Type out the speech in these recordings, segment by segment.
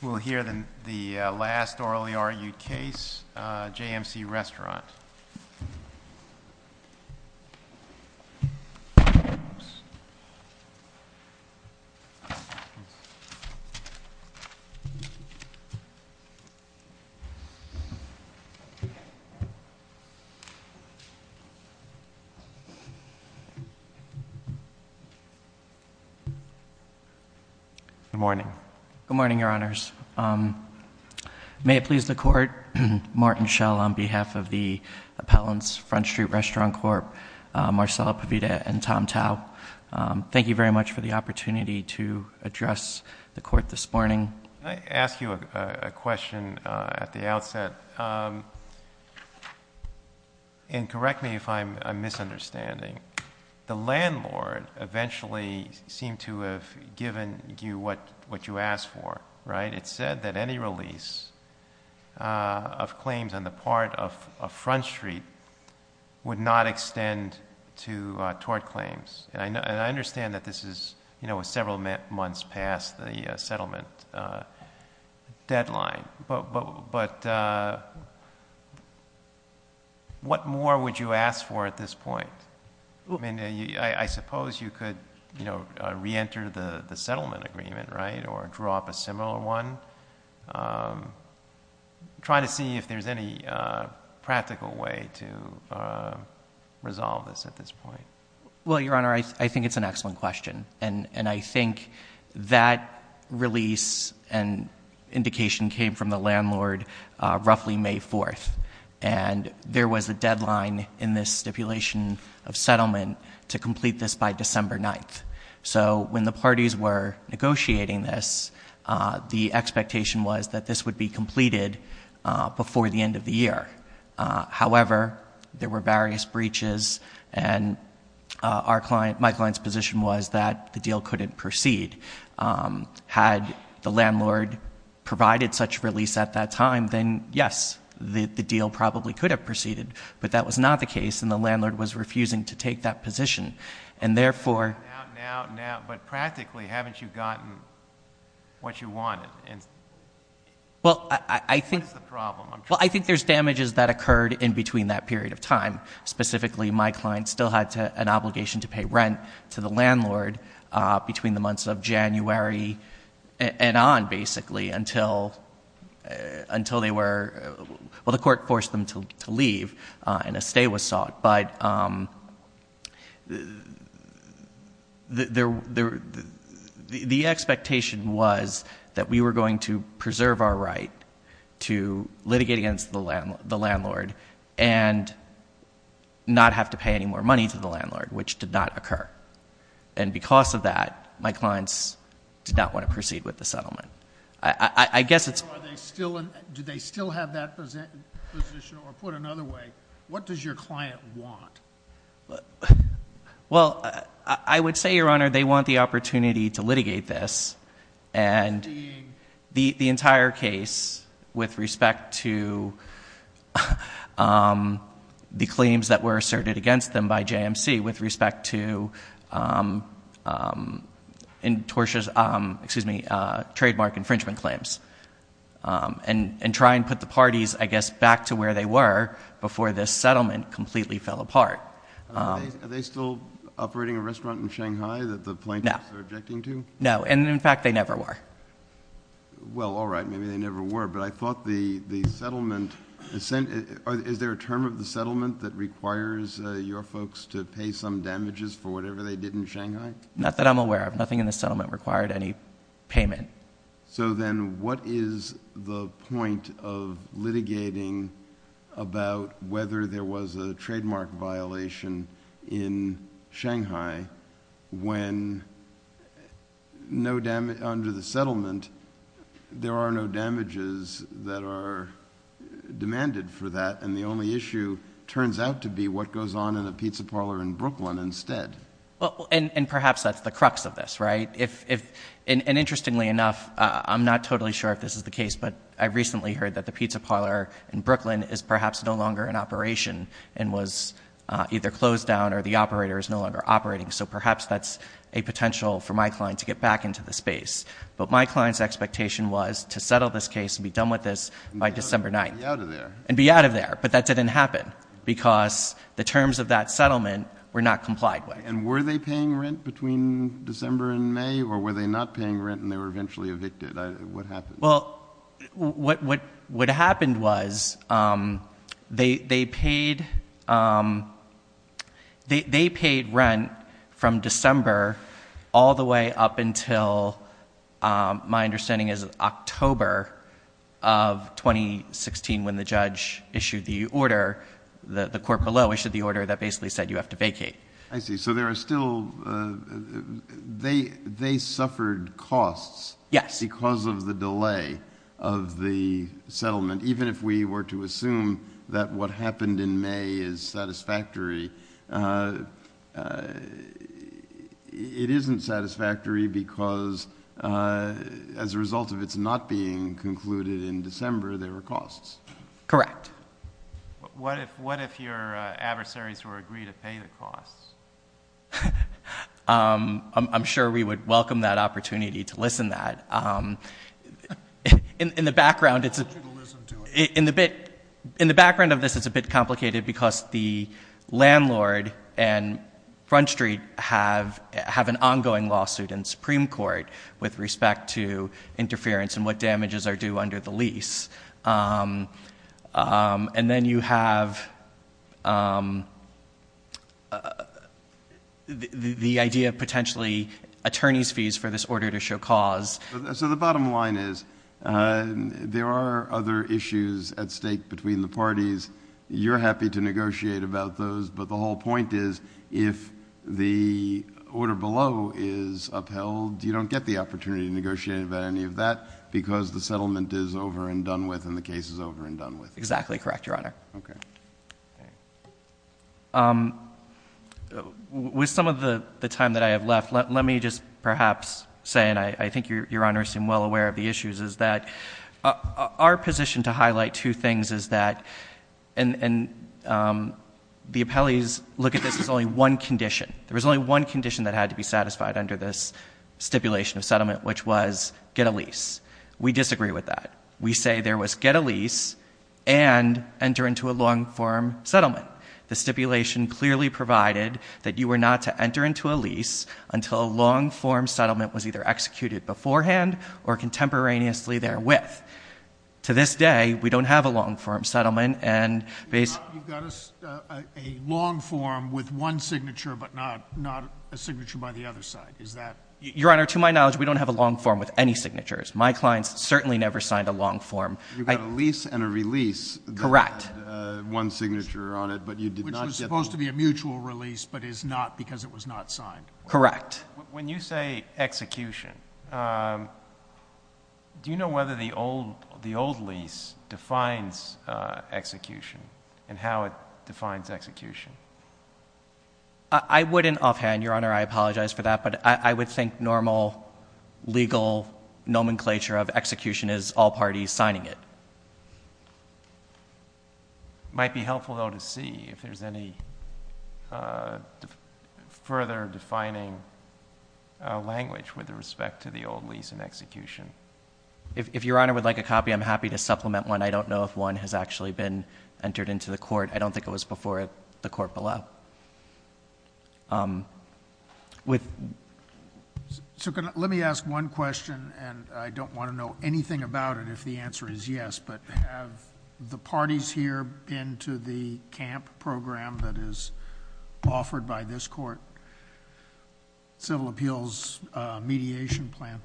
We'll hear the last orally argued case, JMC Restaurant. Good morning, Your Honors. May it please the Court, Martin Schell on behalf of the Appellant's Front Street Restaurant Corp., Marcela Pavita and Tom Tao, thank you very much for the opportunity to address the Court this morning. Can I ask you a question at the outset? And correct me if I'm misunderstanding. The landlord eventually seemed to have given you what you asked for, right? It said that any release of claims on the part of Front Street would not extend toward claims. And I understand that this is several months past the settlement deadline, but what more would you ask for at this point? I suppose you could re-enter the settlement agreement, right, or draw up a similar one. Try to see if there's any practical way to resolve this at this point. Well, Your Honor, I think it's an excellent question. And I think that release and indication came from the landlord roughly May 4th. And there was a deadline in this stipulation of settlement to complete this by December 9th. So when the parties were negotiating this, the expectation was that this would be completed before the end of the year. However, there were various breaches, and my client's position was that the deal couldn't proceed. Had the landlord provided such release at that time, then, yes, the deal probably could have proceeded. But that was not the case, and the landlord was refusing to take that position. And therefore— Now, now, now, but practically, haven't you gotten what you wanted? What is the problem? Well, I think there's damages that occurred in between that period of time. Specifically, my client still had an obligation to pay rent to the landlord between the months of January and on, basically, until they were—well, the court forced them to leave, and a stay was sought. But the expectation was that we were going to preserve our right to litigate against the landlord and not have to pay any more money to the landlord, which did not occur. And because of that, my clients did not want to proceed with the settlement. I guess it's— So are they still—do they still have that position, or put another way, what does your client want? Well, I would say, Your Honor, they want the opportunity to litigate this, and the entire case, with respect to the claims that were asserted against them by JMC, with respect to—excuse me, trademark infringement claims, and try and put the parties, I guess, back to where they were before this settlement completely fell apart. Are they still operating a restaurant in Shanghai that the plaintiffs are objecting to? No. And in fact, they never were. Well, all right. Maybe they never were. But I thought the settlement—is there a term of the settlement that requires your folks to pay some damages for whatever they did in Shanghai? Not that I'm aware of. Nothing in the settlement required any payment. So then, what is the point of litigating about whether there was a trademark violation in There are no damages that are demanded for that, and the only issue turns out to be what goes on in a pizza parlor in Brooklyn instead. And perhaps that's the crux of this, right? And interestingly enough, I'm not totally sure if this is the case, but I recently heard that the pizza parlor in Brooklyn is perhaps no longer in operation, and was either closed down or the operator is no longer operating. So perhaps that's a potential for my client to get back into the space. But my client's expectation was to settle this case and be done with this by December 9th. And be out of there. And be out of there. But that didn't happen, because the terms of that settlement were not complied with. And were they paying rent between December and May, or were they not paying rent and they were eventually evicted? What happened? Well, what happened was they paid rent from December all the way up until my understanding is October of 2016, when the judge issued the order, the court below issued the order that basically said you have to vacate. I see. So there are still... they suffered costs. Yes. Because of the delay of the settlement. Even if we were to assume that what happened in May is satisfactory, it isn't satisfactory because as a result of its not being concluded in December, there were costs. Correct. What if your adversaries were agreed to pay the costs? I'm sure we would welcome that opportunity to listen to that. In the background... I want you to listen to it. In the background of this, it's a bit complicated because the landlord and Front Street have an ongoing lawsuit in Supreme Court with respect to interference and what damages are due under the lease. And then you have the idea of potentially attorney's fees for this order to show cause. So the bottom line is there are other issues at stake between the parties. You're happy to negotiate about those, but the whole point is if the order below is upheld, you don't get the opportunity to negotiate about any of that because the settlement is over and done with and the case is over and done with. Exactly correct, Your Honor. Okay. With some of the time that I have left, let me just perhaps say, and I think Your Honor is well aware of the issues, is that our position to highlight two things is that... and the appellees look at this as only one condition. There was only one condition that had to be satisfied under this stipulation of settlement, which was get a lease. We disagree with that. We say there was get a lease and enter into a long-form settlement. The stipulation clearly provided that you were not to enter into a lease until a long-form settlement was either executed beforehand or contemporaneously therewith. To this day, we don't have a long-form settlement and... You've got a long-form with one signature but not a signature by the other side. Is that... Your Honor, to my knowledge, we don't have a long-form with any signatures. My clients certainly never signed a long-form. You've got a lease and a release... Correct.... that had one signature on it, but you did not get... Which was supposed to be a mutual release but is not because it was not signed. Correct. When you say execution, do you know whether the old lease defines execution and how it defines execution? I wouldn't offhand, Your Honor. I apologize for that, but I would think normal legal nomenclature of execution is all parties signing it. It might be helpful, though, to see if there's any further defining language with respect to the old lease and execution. If Your Honor would like a copy, I'm happy to supplement one. I don't know if one has actually been entered into the court. I don't think it was before the court below. Let me ask one question, and I don't want to know anything about it if the answer is yes, but have the parties here been to the CAMP program that is offered by this court, civil appeals mediation plan?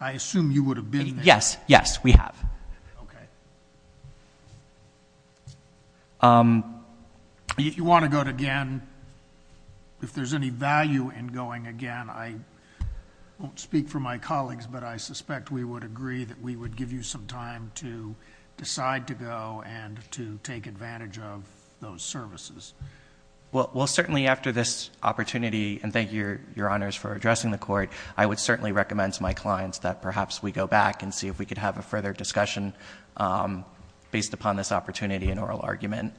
I assume you would have been there. Yes. Yes, we have. Okay. If you want to go again, if there's any value in going again, I won't speak for my colleagues, but I suspect we would agree that we would give you some time to decide to go and to take advantage of those services. Well, certainly after this opportunity, and thank you, Your Honors, for addressing the court, I would certainly recommend to my clients that perhaps we go back and see if we could have a further discussion based upon this opportunity and oral argument.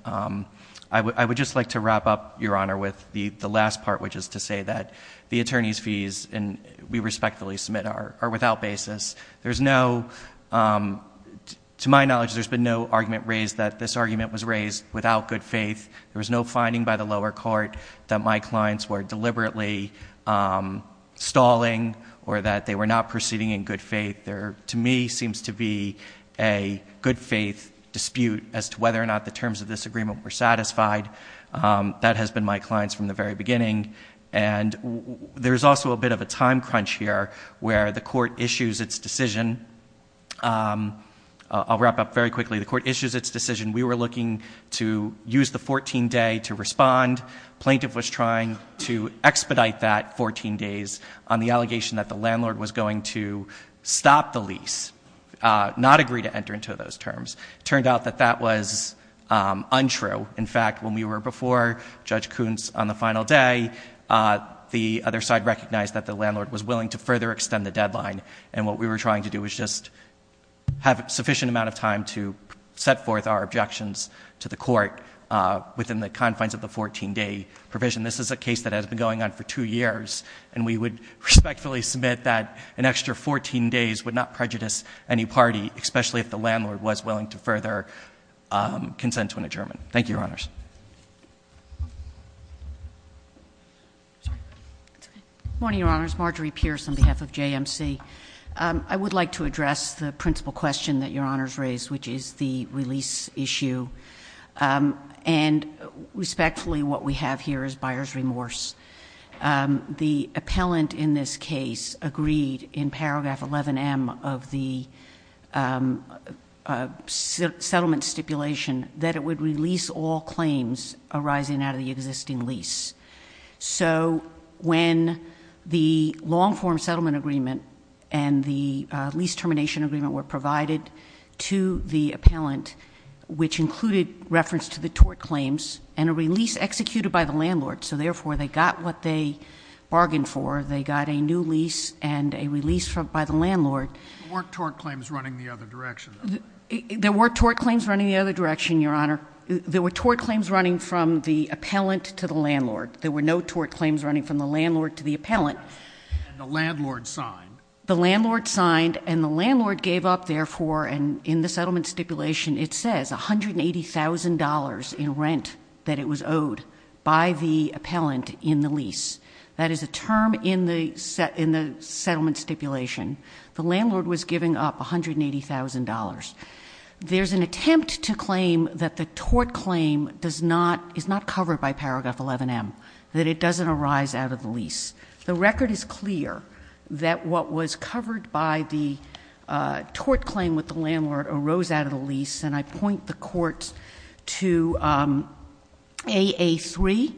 I would just like to wrap up, Your Honor, with the last part, which is to say that the attorney's fees we respectfully submit are without basis. To my knowledge, there's been no argument raised that this argument was raised without good faith. There was no finding by the lower court that my clients were deliberately stalling or that they were not proceeding in good faith. There, to me, seems to be a good faith dispute as to whether or not the terms of this agreement were satisfied. That has been my client's from the very beginning. And there's also a bit of a time crunch here where the court issues its decision. I'll wrap up very quickly. The court issues its decision. We were looking to use the 14-day to respond. Plaintiff was trying to expedite that 14 days on the allegation that the landlord was going to stop the lease, not agree to enter into those terms. It turned out that that was untrue. In fact, when we were before Judge Kuntz on the final day, the other side recognized that the landlord was willing to further extend the deadline. And what we were trying to do was just have a sufficient amount of time to set forth our objections to the court within the confines of the 14-day provision. This is a case that has been going on for two years. And we would respectfully submit that an extra 14 days would not prejudice any party, especially if the landlord was willing to further consent to an adjournment. Thank you, Your Honors. Sorry. It's okay. Good morning, Your Honors. Marjorie Pierce on behalf of JMC. I would like to address the principal question that Your Honors raised, which is the release issue. And respectfully, what we have here is buyer's remorse. The appellant in this case agreed in paragraph 11M of the settlement stipulation that it would release all claims arising out of the existing lease. So when the long-form settlement agreement and the lease termination agreement were provided to the appellant, which included reference to the tort claims and a release executed by the landlord, so therefore they got what they bargained for. They got a new lease and a release by the landlord. There weren't tort claims running the other direction, though. There were tort claims running the other direction, Your Honor. There were tort claims running from the appellant to the landlord. There were no tort claims running from the landlord to the appellant. And the landlord signed. The landlord signed, and the landlord gave up, therefore, and in the settlement stipulation it says $180,000 in rent that it was owed by the appellant in the lease. That is a term in the settlement stipulation. The landlord was giving up $180,000. There's an attempt to claim that the tort claim is not covered by paragraph 11M, that it doesn't arise out of the lease. The record is clear that what was covered by the tort claim with the landlord arose out of the lease, and I point the Court to AA3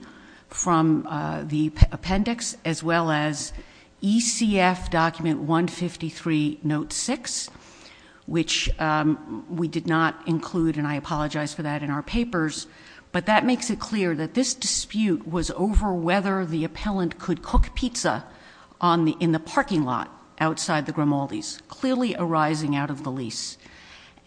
from the appendix as well as ECF Document 153, Note 6, which we did not include, and I apologize for that, in our papers. But that makes it clear that this dispute was over whether the appellant could cook pizza in the parking lot outside the Grimaldi's, clearly arising out of the lease.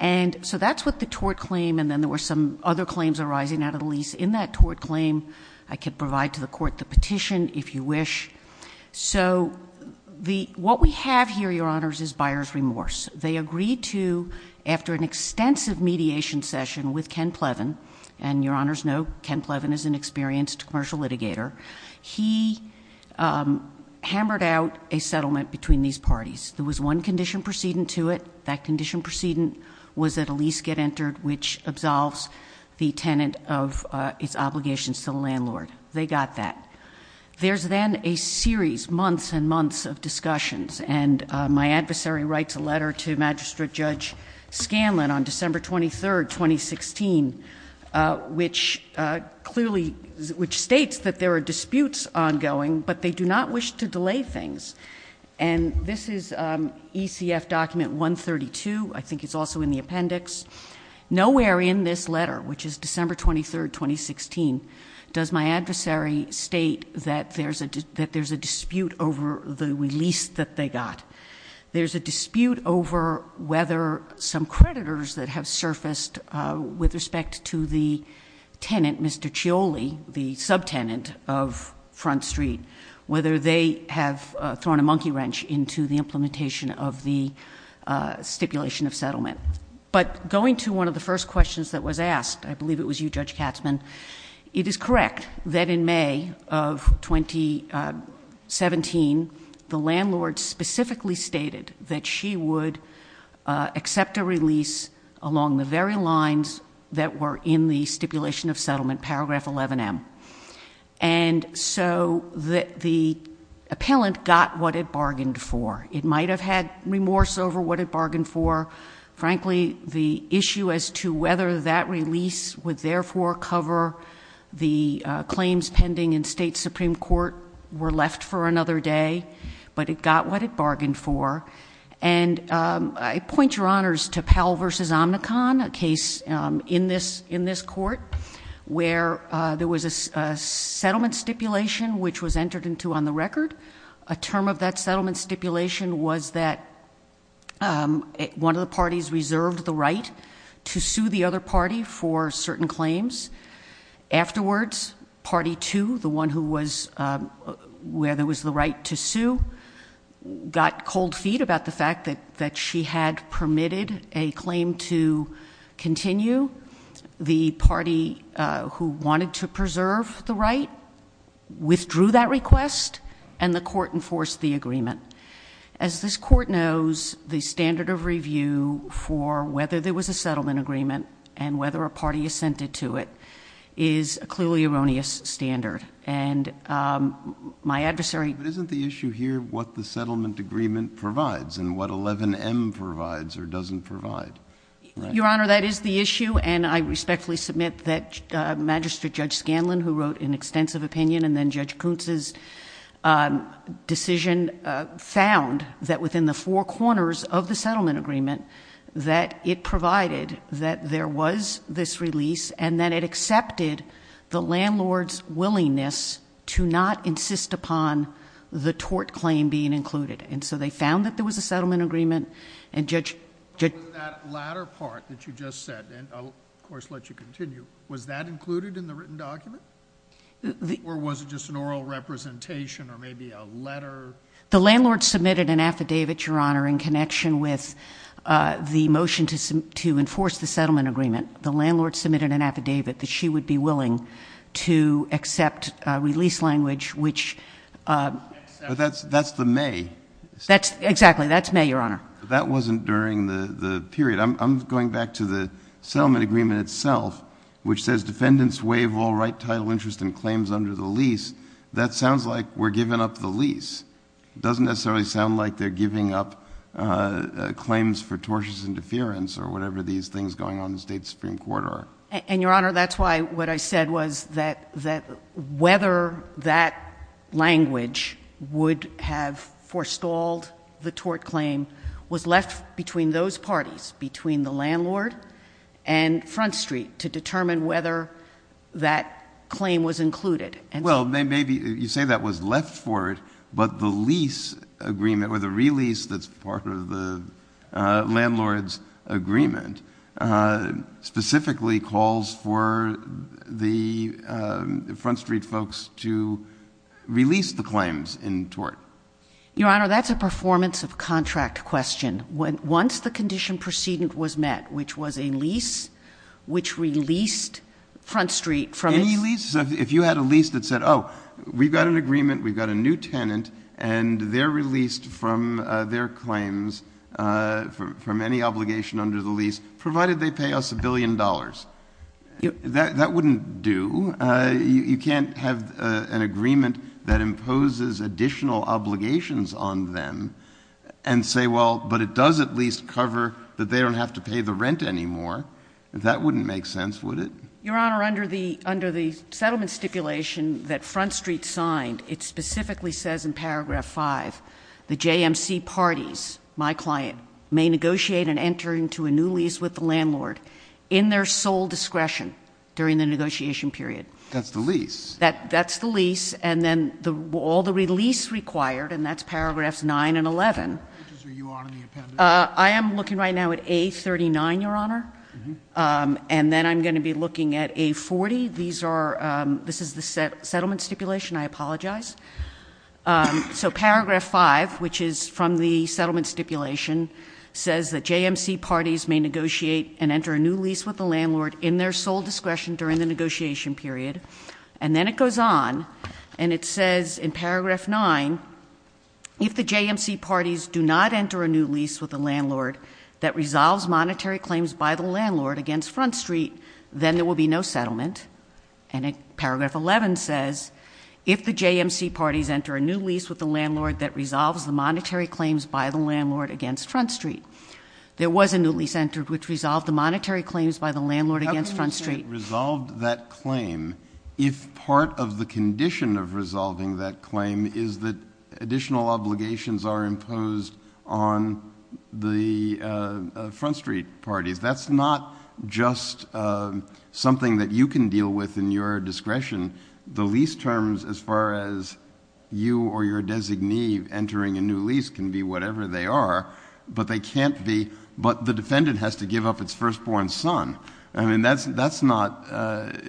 So that's what the tort claim, and then there were some other claims arising out of the lease in that tort claim. I could provide to the Court the petition if you wish. So what we have here, Your Honors, is buyer's remorse. They agreed to, after an extensive mediation session with Ken Plevin, and Your Honors know Ken Plevin is an experienced commercial litigator, he hammered out a settlement between these parties. There was one condition precedent to it. That condition precedent was that a lease get entered, which absolves the tenant of its obligations to the landlord. They got that. There's then a series, months and months of discussions, and my adversary writes a letter to Magistrate Judge Scanlon on December 23, 2016, which states that there are disputes ongoing, but they do not wish to delay things. And this is ECF Document 132. I think it's also in the appendix. Nowhere in this letter, which is December 23, 2016, does my adversary state that there's a dispute over the lease that they got. There's a dispute over whether some creditors that have surfaced with respect to the tenant, Mr. Cioli, the subtenant of Front Street, whether they have thrown a monkey wrench into the implementation of the stipulation of settlement. But going to one of the first questions that was asked, I believe it was you, Judge Katzmann, it is correct that in May of 2017, the landlord specifically stated that she would accept a release along the very lines that were in the stipulation of settlement, paragraph 11M. And so the appellant got what it bargained for. It might have had remorse over what it bargained for. Frankly, the issue as to whether that release would therefore cover the claims pending in state Supreme Court were left for another day, but it got what it bargained for. And I point your honors to Powell v. Omnicon, a case in this court where there was a settlement stipulation which was entered into on the record. A term of that settlement stipulation was that one of the parties reserved the right to sue the other party for certain claims. Afterwards, party two, the one where there was the right to sue, got cold feet about the fact that she had permitted a claim to continue. The party who wanted to preserve the right withdrew that request and the court enforced the agreement. As this court knows, the standard of review for whether there was a settlement agreement and whether a party assented to it is a clearly erroneous standard. And my adversary... But isn't the issue here what the settlement agreement provides and what 11M provides or doesn't provide? Your Honor, that is the issue, and I respectfully submit that Magistrate Judge Scanlon, who wrote an extensive opinion and then Judge Kuntz's decision, found that within the four corners of the settlement agreement that it provided that there was this release and that it accepted the landlord's willingness to not insist upon the tort claim being included. And so they found that there was a settlement agreement and Judge... But in that latter part that you just said, and I'll of course let you continue, was that included in the written document? Or was it just an oral representation or maybe a letter? The landlord submitted an affidavit, Your Honor, in connection with the motion to enforce the settlement agreement. The landlord submitted an affidavit that she would be willing to accept release language, which... But that's the May... Exactly, that's May, Your Honor. But that wasn't during the period. I'm going back to the settlement agreement itself, which says defendants waive all right, title, interest, and claims under the lease. That sounds like we're giving up the lease. It doesn't necessarily sound like they're giving up claims for tortious interference or whatever these things going on in the State Supreme Court are. And, Your Honor, that's why what I said was that whether that language would have forestalled the tort claim was left between those parties, between the landlord and Front Street, to determine whether that claim was included. Well, you say that was left for it, but the lease agreement or the release that's part of the landlord's agreement specifically calls for the Front Street folks to release the claims in tort. Your Honor, that's a performance of contract question. Once the condition precedent was met, which was a lease which released Front Street from its... Any lease? If you had a lease that said, oh, we've got an agreement, we've got a new tenant, and they're released from their claims from any obligation under the lease, provided they pay us a billion dollars. That wouldn't do. You can't have an agreement that imposes additional obligations on them and say, well, but it does at least cover that they don't have to pay the rent anymore. That wouldn't make sense, would it? Your Honor, under the settlement stipulation that Front Street signed, it specifically says in paragraph 5, the JMC parties, my client, may negotiate and enter into a new lease with the landlord in their sole discretion during the negotiation period. That's the lease? That's the lease, and then all the release required, and that's paragraphs 9 and 11. Which is where you are in the appendix? I am looking right now at A39, Your Honor, and then I'm going to be looking at A40. This is the settlement stipulation. I apologize. So paragraph 5, which is from the settlement stipulation, says that JMC parties may negotiate and enter a new lease with the landlord in their sole discretion during the negotiation period. And then it goes on, and it says in paragraph 9, if the JMC parties do not enter a new lease with the landlord that resolves monetary claims by the landlord against Front Street, then there will be no settlement. And paragraph 11 says, if the JMC parties enter a new lease with the landlord that resolves the monetary claims by the landlord against Front Street. There was a new lease entered which resolved the monetary claims by the landlord against Front Street. How can you say it resolved that claim if part of the condition of resolving that claim is that additional obligations are imposed on the Front Street parties? That's not just something that you can deal with in your discretion. The lease terms, as far as you or your designee entering a new lease, can be whatever they are, but they can't be... But the defendant has to give up its firstborn son. I mean, that's not...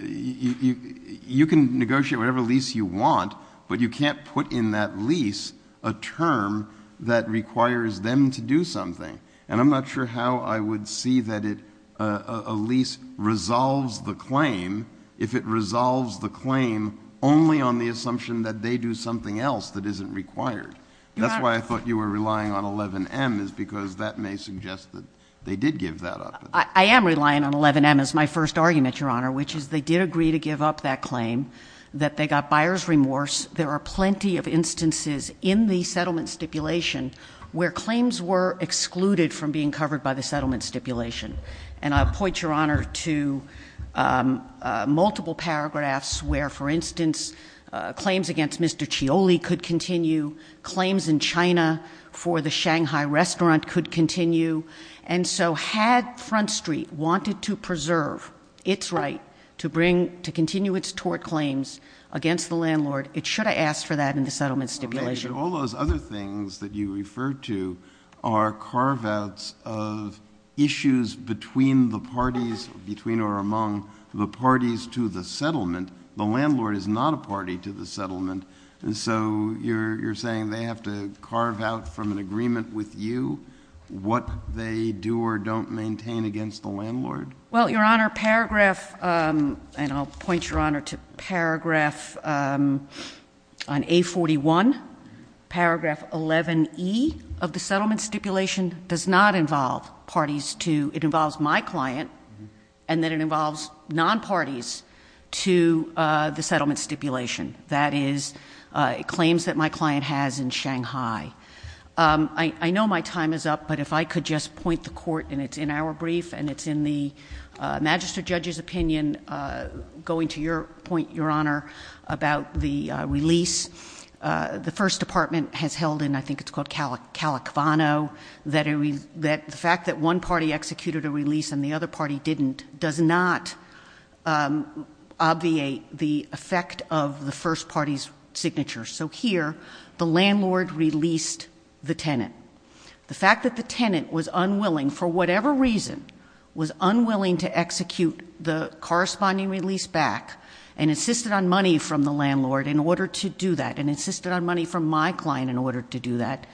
You can negotiate whatever lease you want, but you can't put in that lease a term that requires them to do something. And I'm not sure how I would see that a lease resolves the claim if it resolves the claim only on the assumption that they do something else that isn't required. That's why I thought you were relying on 11M, is because that may suggest that they did give that up. I am relying on 11M as my first argument, Your Honor, which is they did agree to give up that claim, that they got buyer's remorse. There are plenty of instances in the settlement stipulation where claims were excluded from being covered by the settlement stipulation. And I'll point, Your Honor, to multiple paragraphs where, for instance, claims against Mr. Cioli could continue, claims in China for the Shanghai restaurant could continue. And so had Front Street wanted to preserve its right to continue its tort claims against the landlord, it should have asked for that in the settlement stipulation. All those other things that you refer to are carve-outs of issues between the parties, between or among the parties to the settlement. The landlord is not a party to the settlement. And so you're saying they have to carve out from an agreement with you what they do or don't maintain against the landlord? Well, Your Honor, paragraph... And I'll point, Your Honor, to paragraph, um... on A-41, paragraph 11E of the settlement stipulation does not involve parties to... It involves my client, and then it involves non-parties to the settlement stipulation. That is, claims that my client has in Shanghai. I know my time is up, but if I could just point the court, and it's in our brief, and it's in the magistrate judge's opinion, going to your point, Your Honor, about the release. The First Department has held in, I think it's called Calacvano, that the fact that one party executed a release and the other party didn't does not obviate the effect of the first party's signature. So here, the landlord released the tenant. The fact that the tenant was unwilling, for whatever reason, was unwilling to execute the corresponding release back and insisted on money from the landlord in order to do that and insisted on money from my client in order to do that.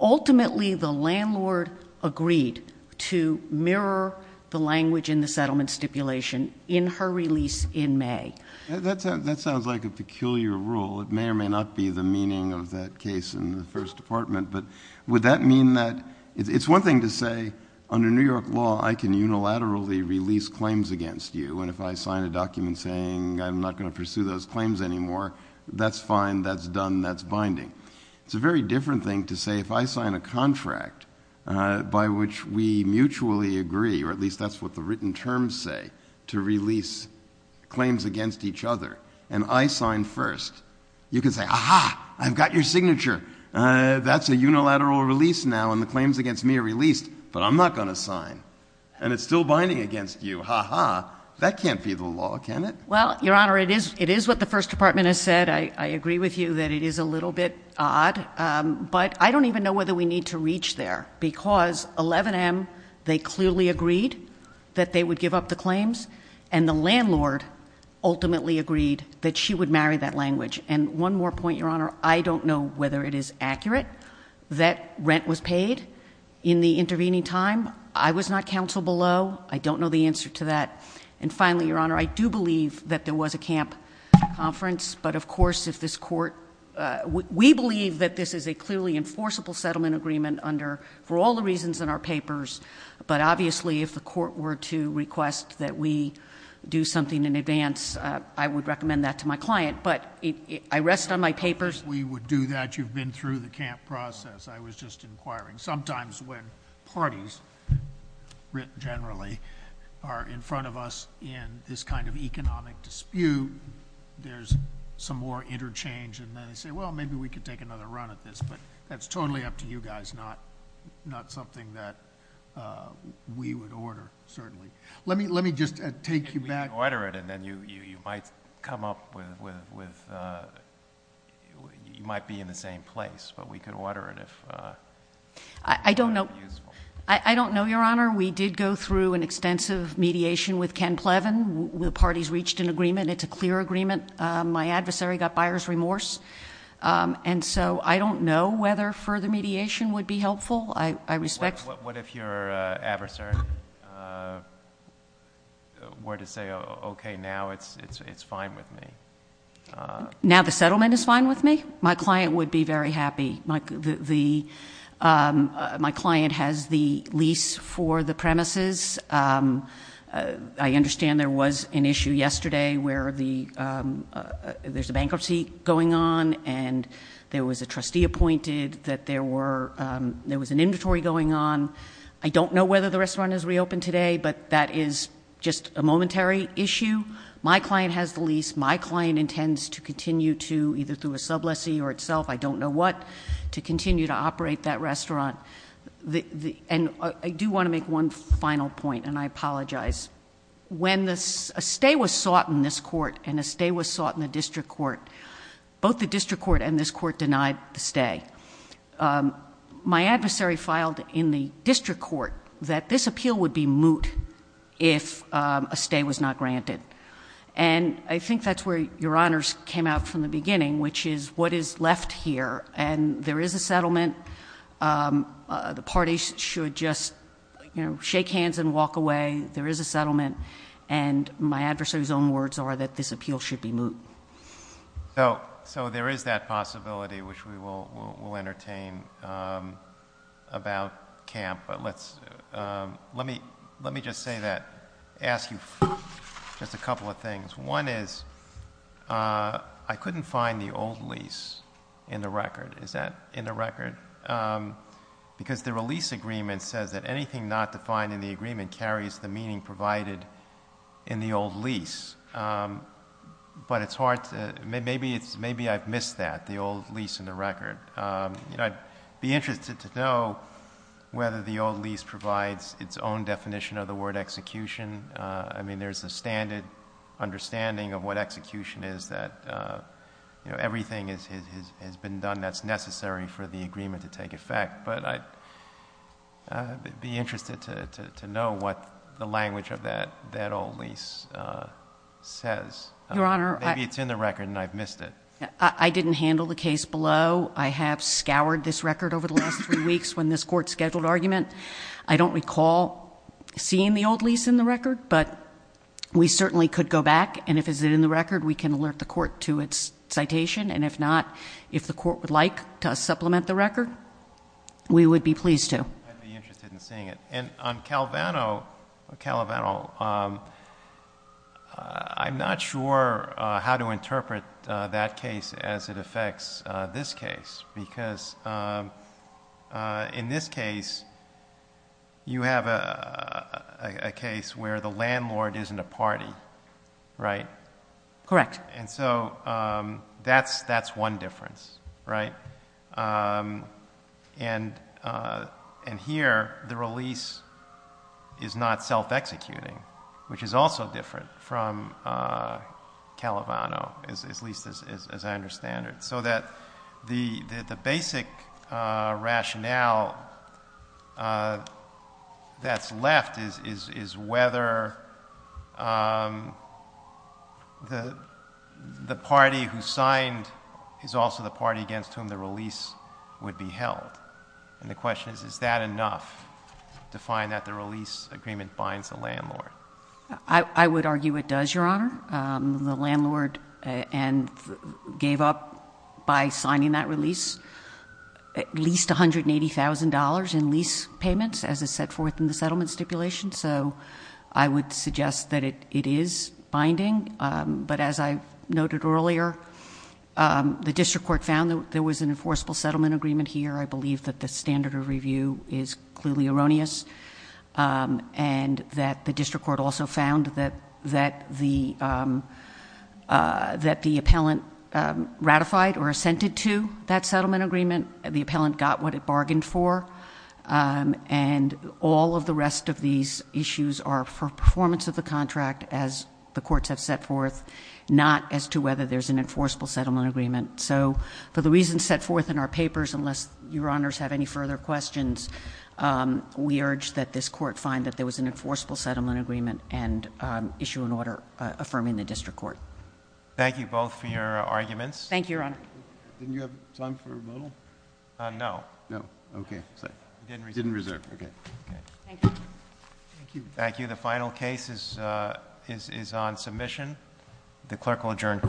Ultimately, the landlord agreed to mirror the language in the settlement stipulation in her release in May. That sounds like a peculiar rule. It may or may not be the meaning of that case in the First Department, but would that mean that... It's one thing to say, under New York law, I can unilaterally release claims against you, and if I sign a document saying I'm not going to pursue those claims anymore, that's fine, that's done, that's binding. It's a very different thing to say, if I sign a contract by which we mutually agree, or at least that's what the written terms say, to release claims against each other, and I sign first, you can say, Aha! I've got your signature! That's a unilateral release now, and the claims against me are released, but I'm not going to sign. And it's still binding against you. Aha! That can't be the law, can it? Well, Your Honor, it is what the First Department has said. I agree with you that it is a little bit odd, but I don't even know whether we need to reach there, because 11M, they clearly agreed that they would give up the claims, and the landlord ultimately agreed that she would marry that language. And one more point, Your Honor, I don't know whether it is accurate that rent was paid in the intervening time. I was not counsel below. I don't know the answer to that. And finally, Your Honor, I do believe that there was a camp conference, but of course if this Court... We believe that this is a clearly enforceable settlement agreement under, for all the reasons in our papers, but obviously if the Court were to request that we do something in advance, I would recommend that to my client. But I rest on my papers. If we would do that, you've been through the camp process. I was just inquiring. Sometimes when parties, generally, are in front of us in this kind of economic dispute, there's some more interchange, and then they say, well, maybe we could take another run at this, but that's totally up to you guys, not something that we would order, certainly. Let me just take you back... We could order it, and then you might come up with... You might be in the same place, but we could order it if... I don't know, Your Honor. We did go through an extensive mediation with Ken Plevin. The parties reached an agreement. It's a clear agreement. My adversary got buyer's remorse, and so I don't know whether further mediation would be helpful. I respect... What if your adversary were to say, okay, now it's fine with me? Now the settlement is fine with me? My client would be very happy. The... My client has the lease for the premises. I understand there was an issue yesterday where the... There's a bankruptcy going on, and there was a trustee appointed, that there were... There was an inventory going on. I don't know whether the restaurant has reopened today, but that is just a momentary issue. My client has the lease. My client intends to continue to, either through a subleasee or itself, I don't know what, to continue to operate that restaurant. I do want to make one final point, and I apologize. When a stay was sought in this court, and a stay was sought in the district court, both the district court and this court denied the stay. My adversary filed in the district court that this appeal would be moot if a stay was not granted. I think that's where your honors came out from the beginning, which is what is left here, and there is a settlement. The parties should just shake hands and walk away. There is a settlement, and my adversary's own words are that this appeal should be moot. So there is that possibility, which we will entertain about camp, but let's... Let me just say that. I want to ask you just a couple of things. One is I couldn't find the old lease in the record. Is that in the record? Because the release agreement says that anything not defined in the agreement carries the meaning provided in the old lease. But it's hard to... Maybe I've missed that, the old lease in the record. I'd be interested to know whether the old lease provides its own definition of the word execution. I mean, there's a standard understanding of what execution is that everything has been done that's necessary for the agreement to take effect. But I'd be interested to know what the language of that old lease says. Maybe it's in the record and I've missed it. I didn't handle the case below. I have scoured this record over the last three weeks when this court issued a scheduled argument. I don't recall seeing the old lease in the record but we certainly could go back and if it's in the record we can alert the court to its citation and if not, if the court would like to supplement the record we would be pleased to. And on Calvano Calvano I'm not sure how to interpret that case as it affects this case because in this case you have a case where the landlord isn't a party right? Correct. And so that's one difference, right? And here the release is not self-executing which is also different from Calvano at least as I understand it. So that the basic rationale that's left is whether the party who signed is also the party against whom the release would be held. And the question is, is that enough to find that the release agreement binds the landlord? I would argue it does, Your Honor. The landlord gave up by signing that release at least $180,000 in lease payments as is set forth in the settlement stipulation. So I would suggest that it is binding but as I noted earlier the district court found there was an enforceable settlement agreement here I believe that the standard of review is clearly erroneous and that the district court also found that that the appellant ratified or assented to that settlement agreement. The appellant got what it bargained for and all of the rest of these issues are for performance of the contract as the courts have set forth, not as to whether there's an enforceable settlement agreement. So for the reasons set forth in our papers, unless Your Honors have any further questions, we urge that this court find that there was an issue in order affirming the district court. Thank you both for your arguments. Thank you, Your Honor. Didn't you have time for a modal? No. Okay. Didn't reserve. Okay. Thank you. The final case is on submission. The clerk will adjourn court.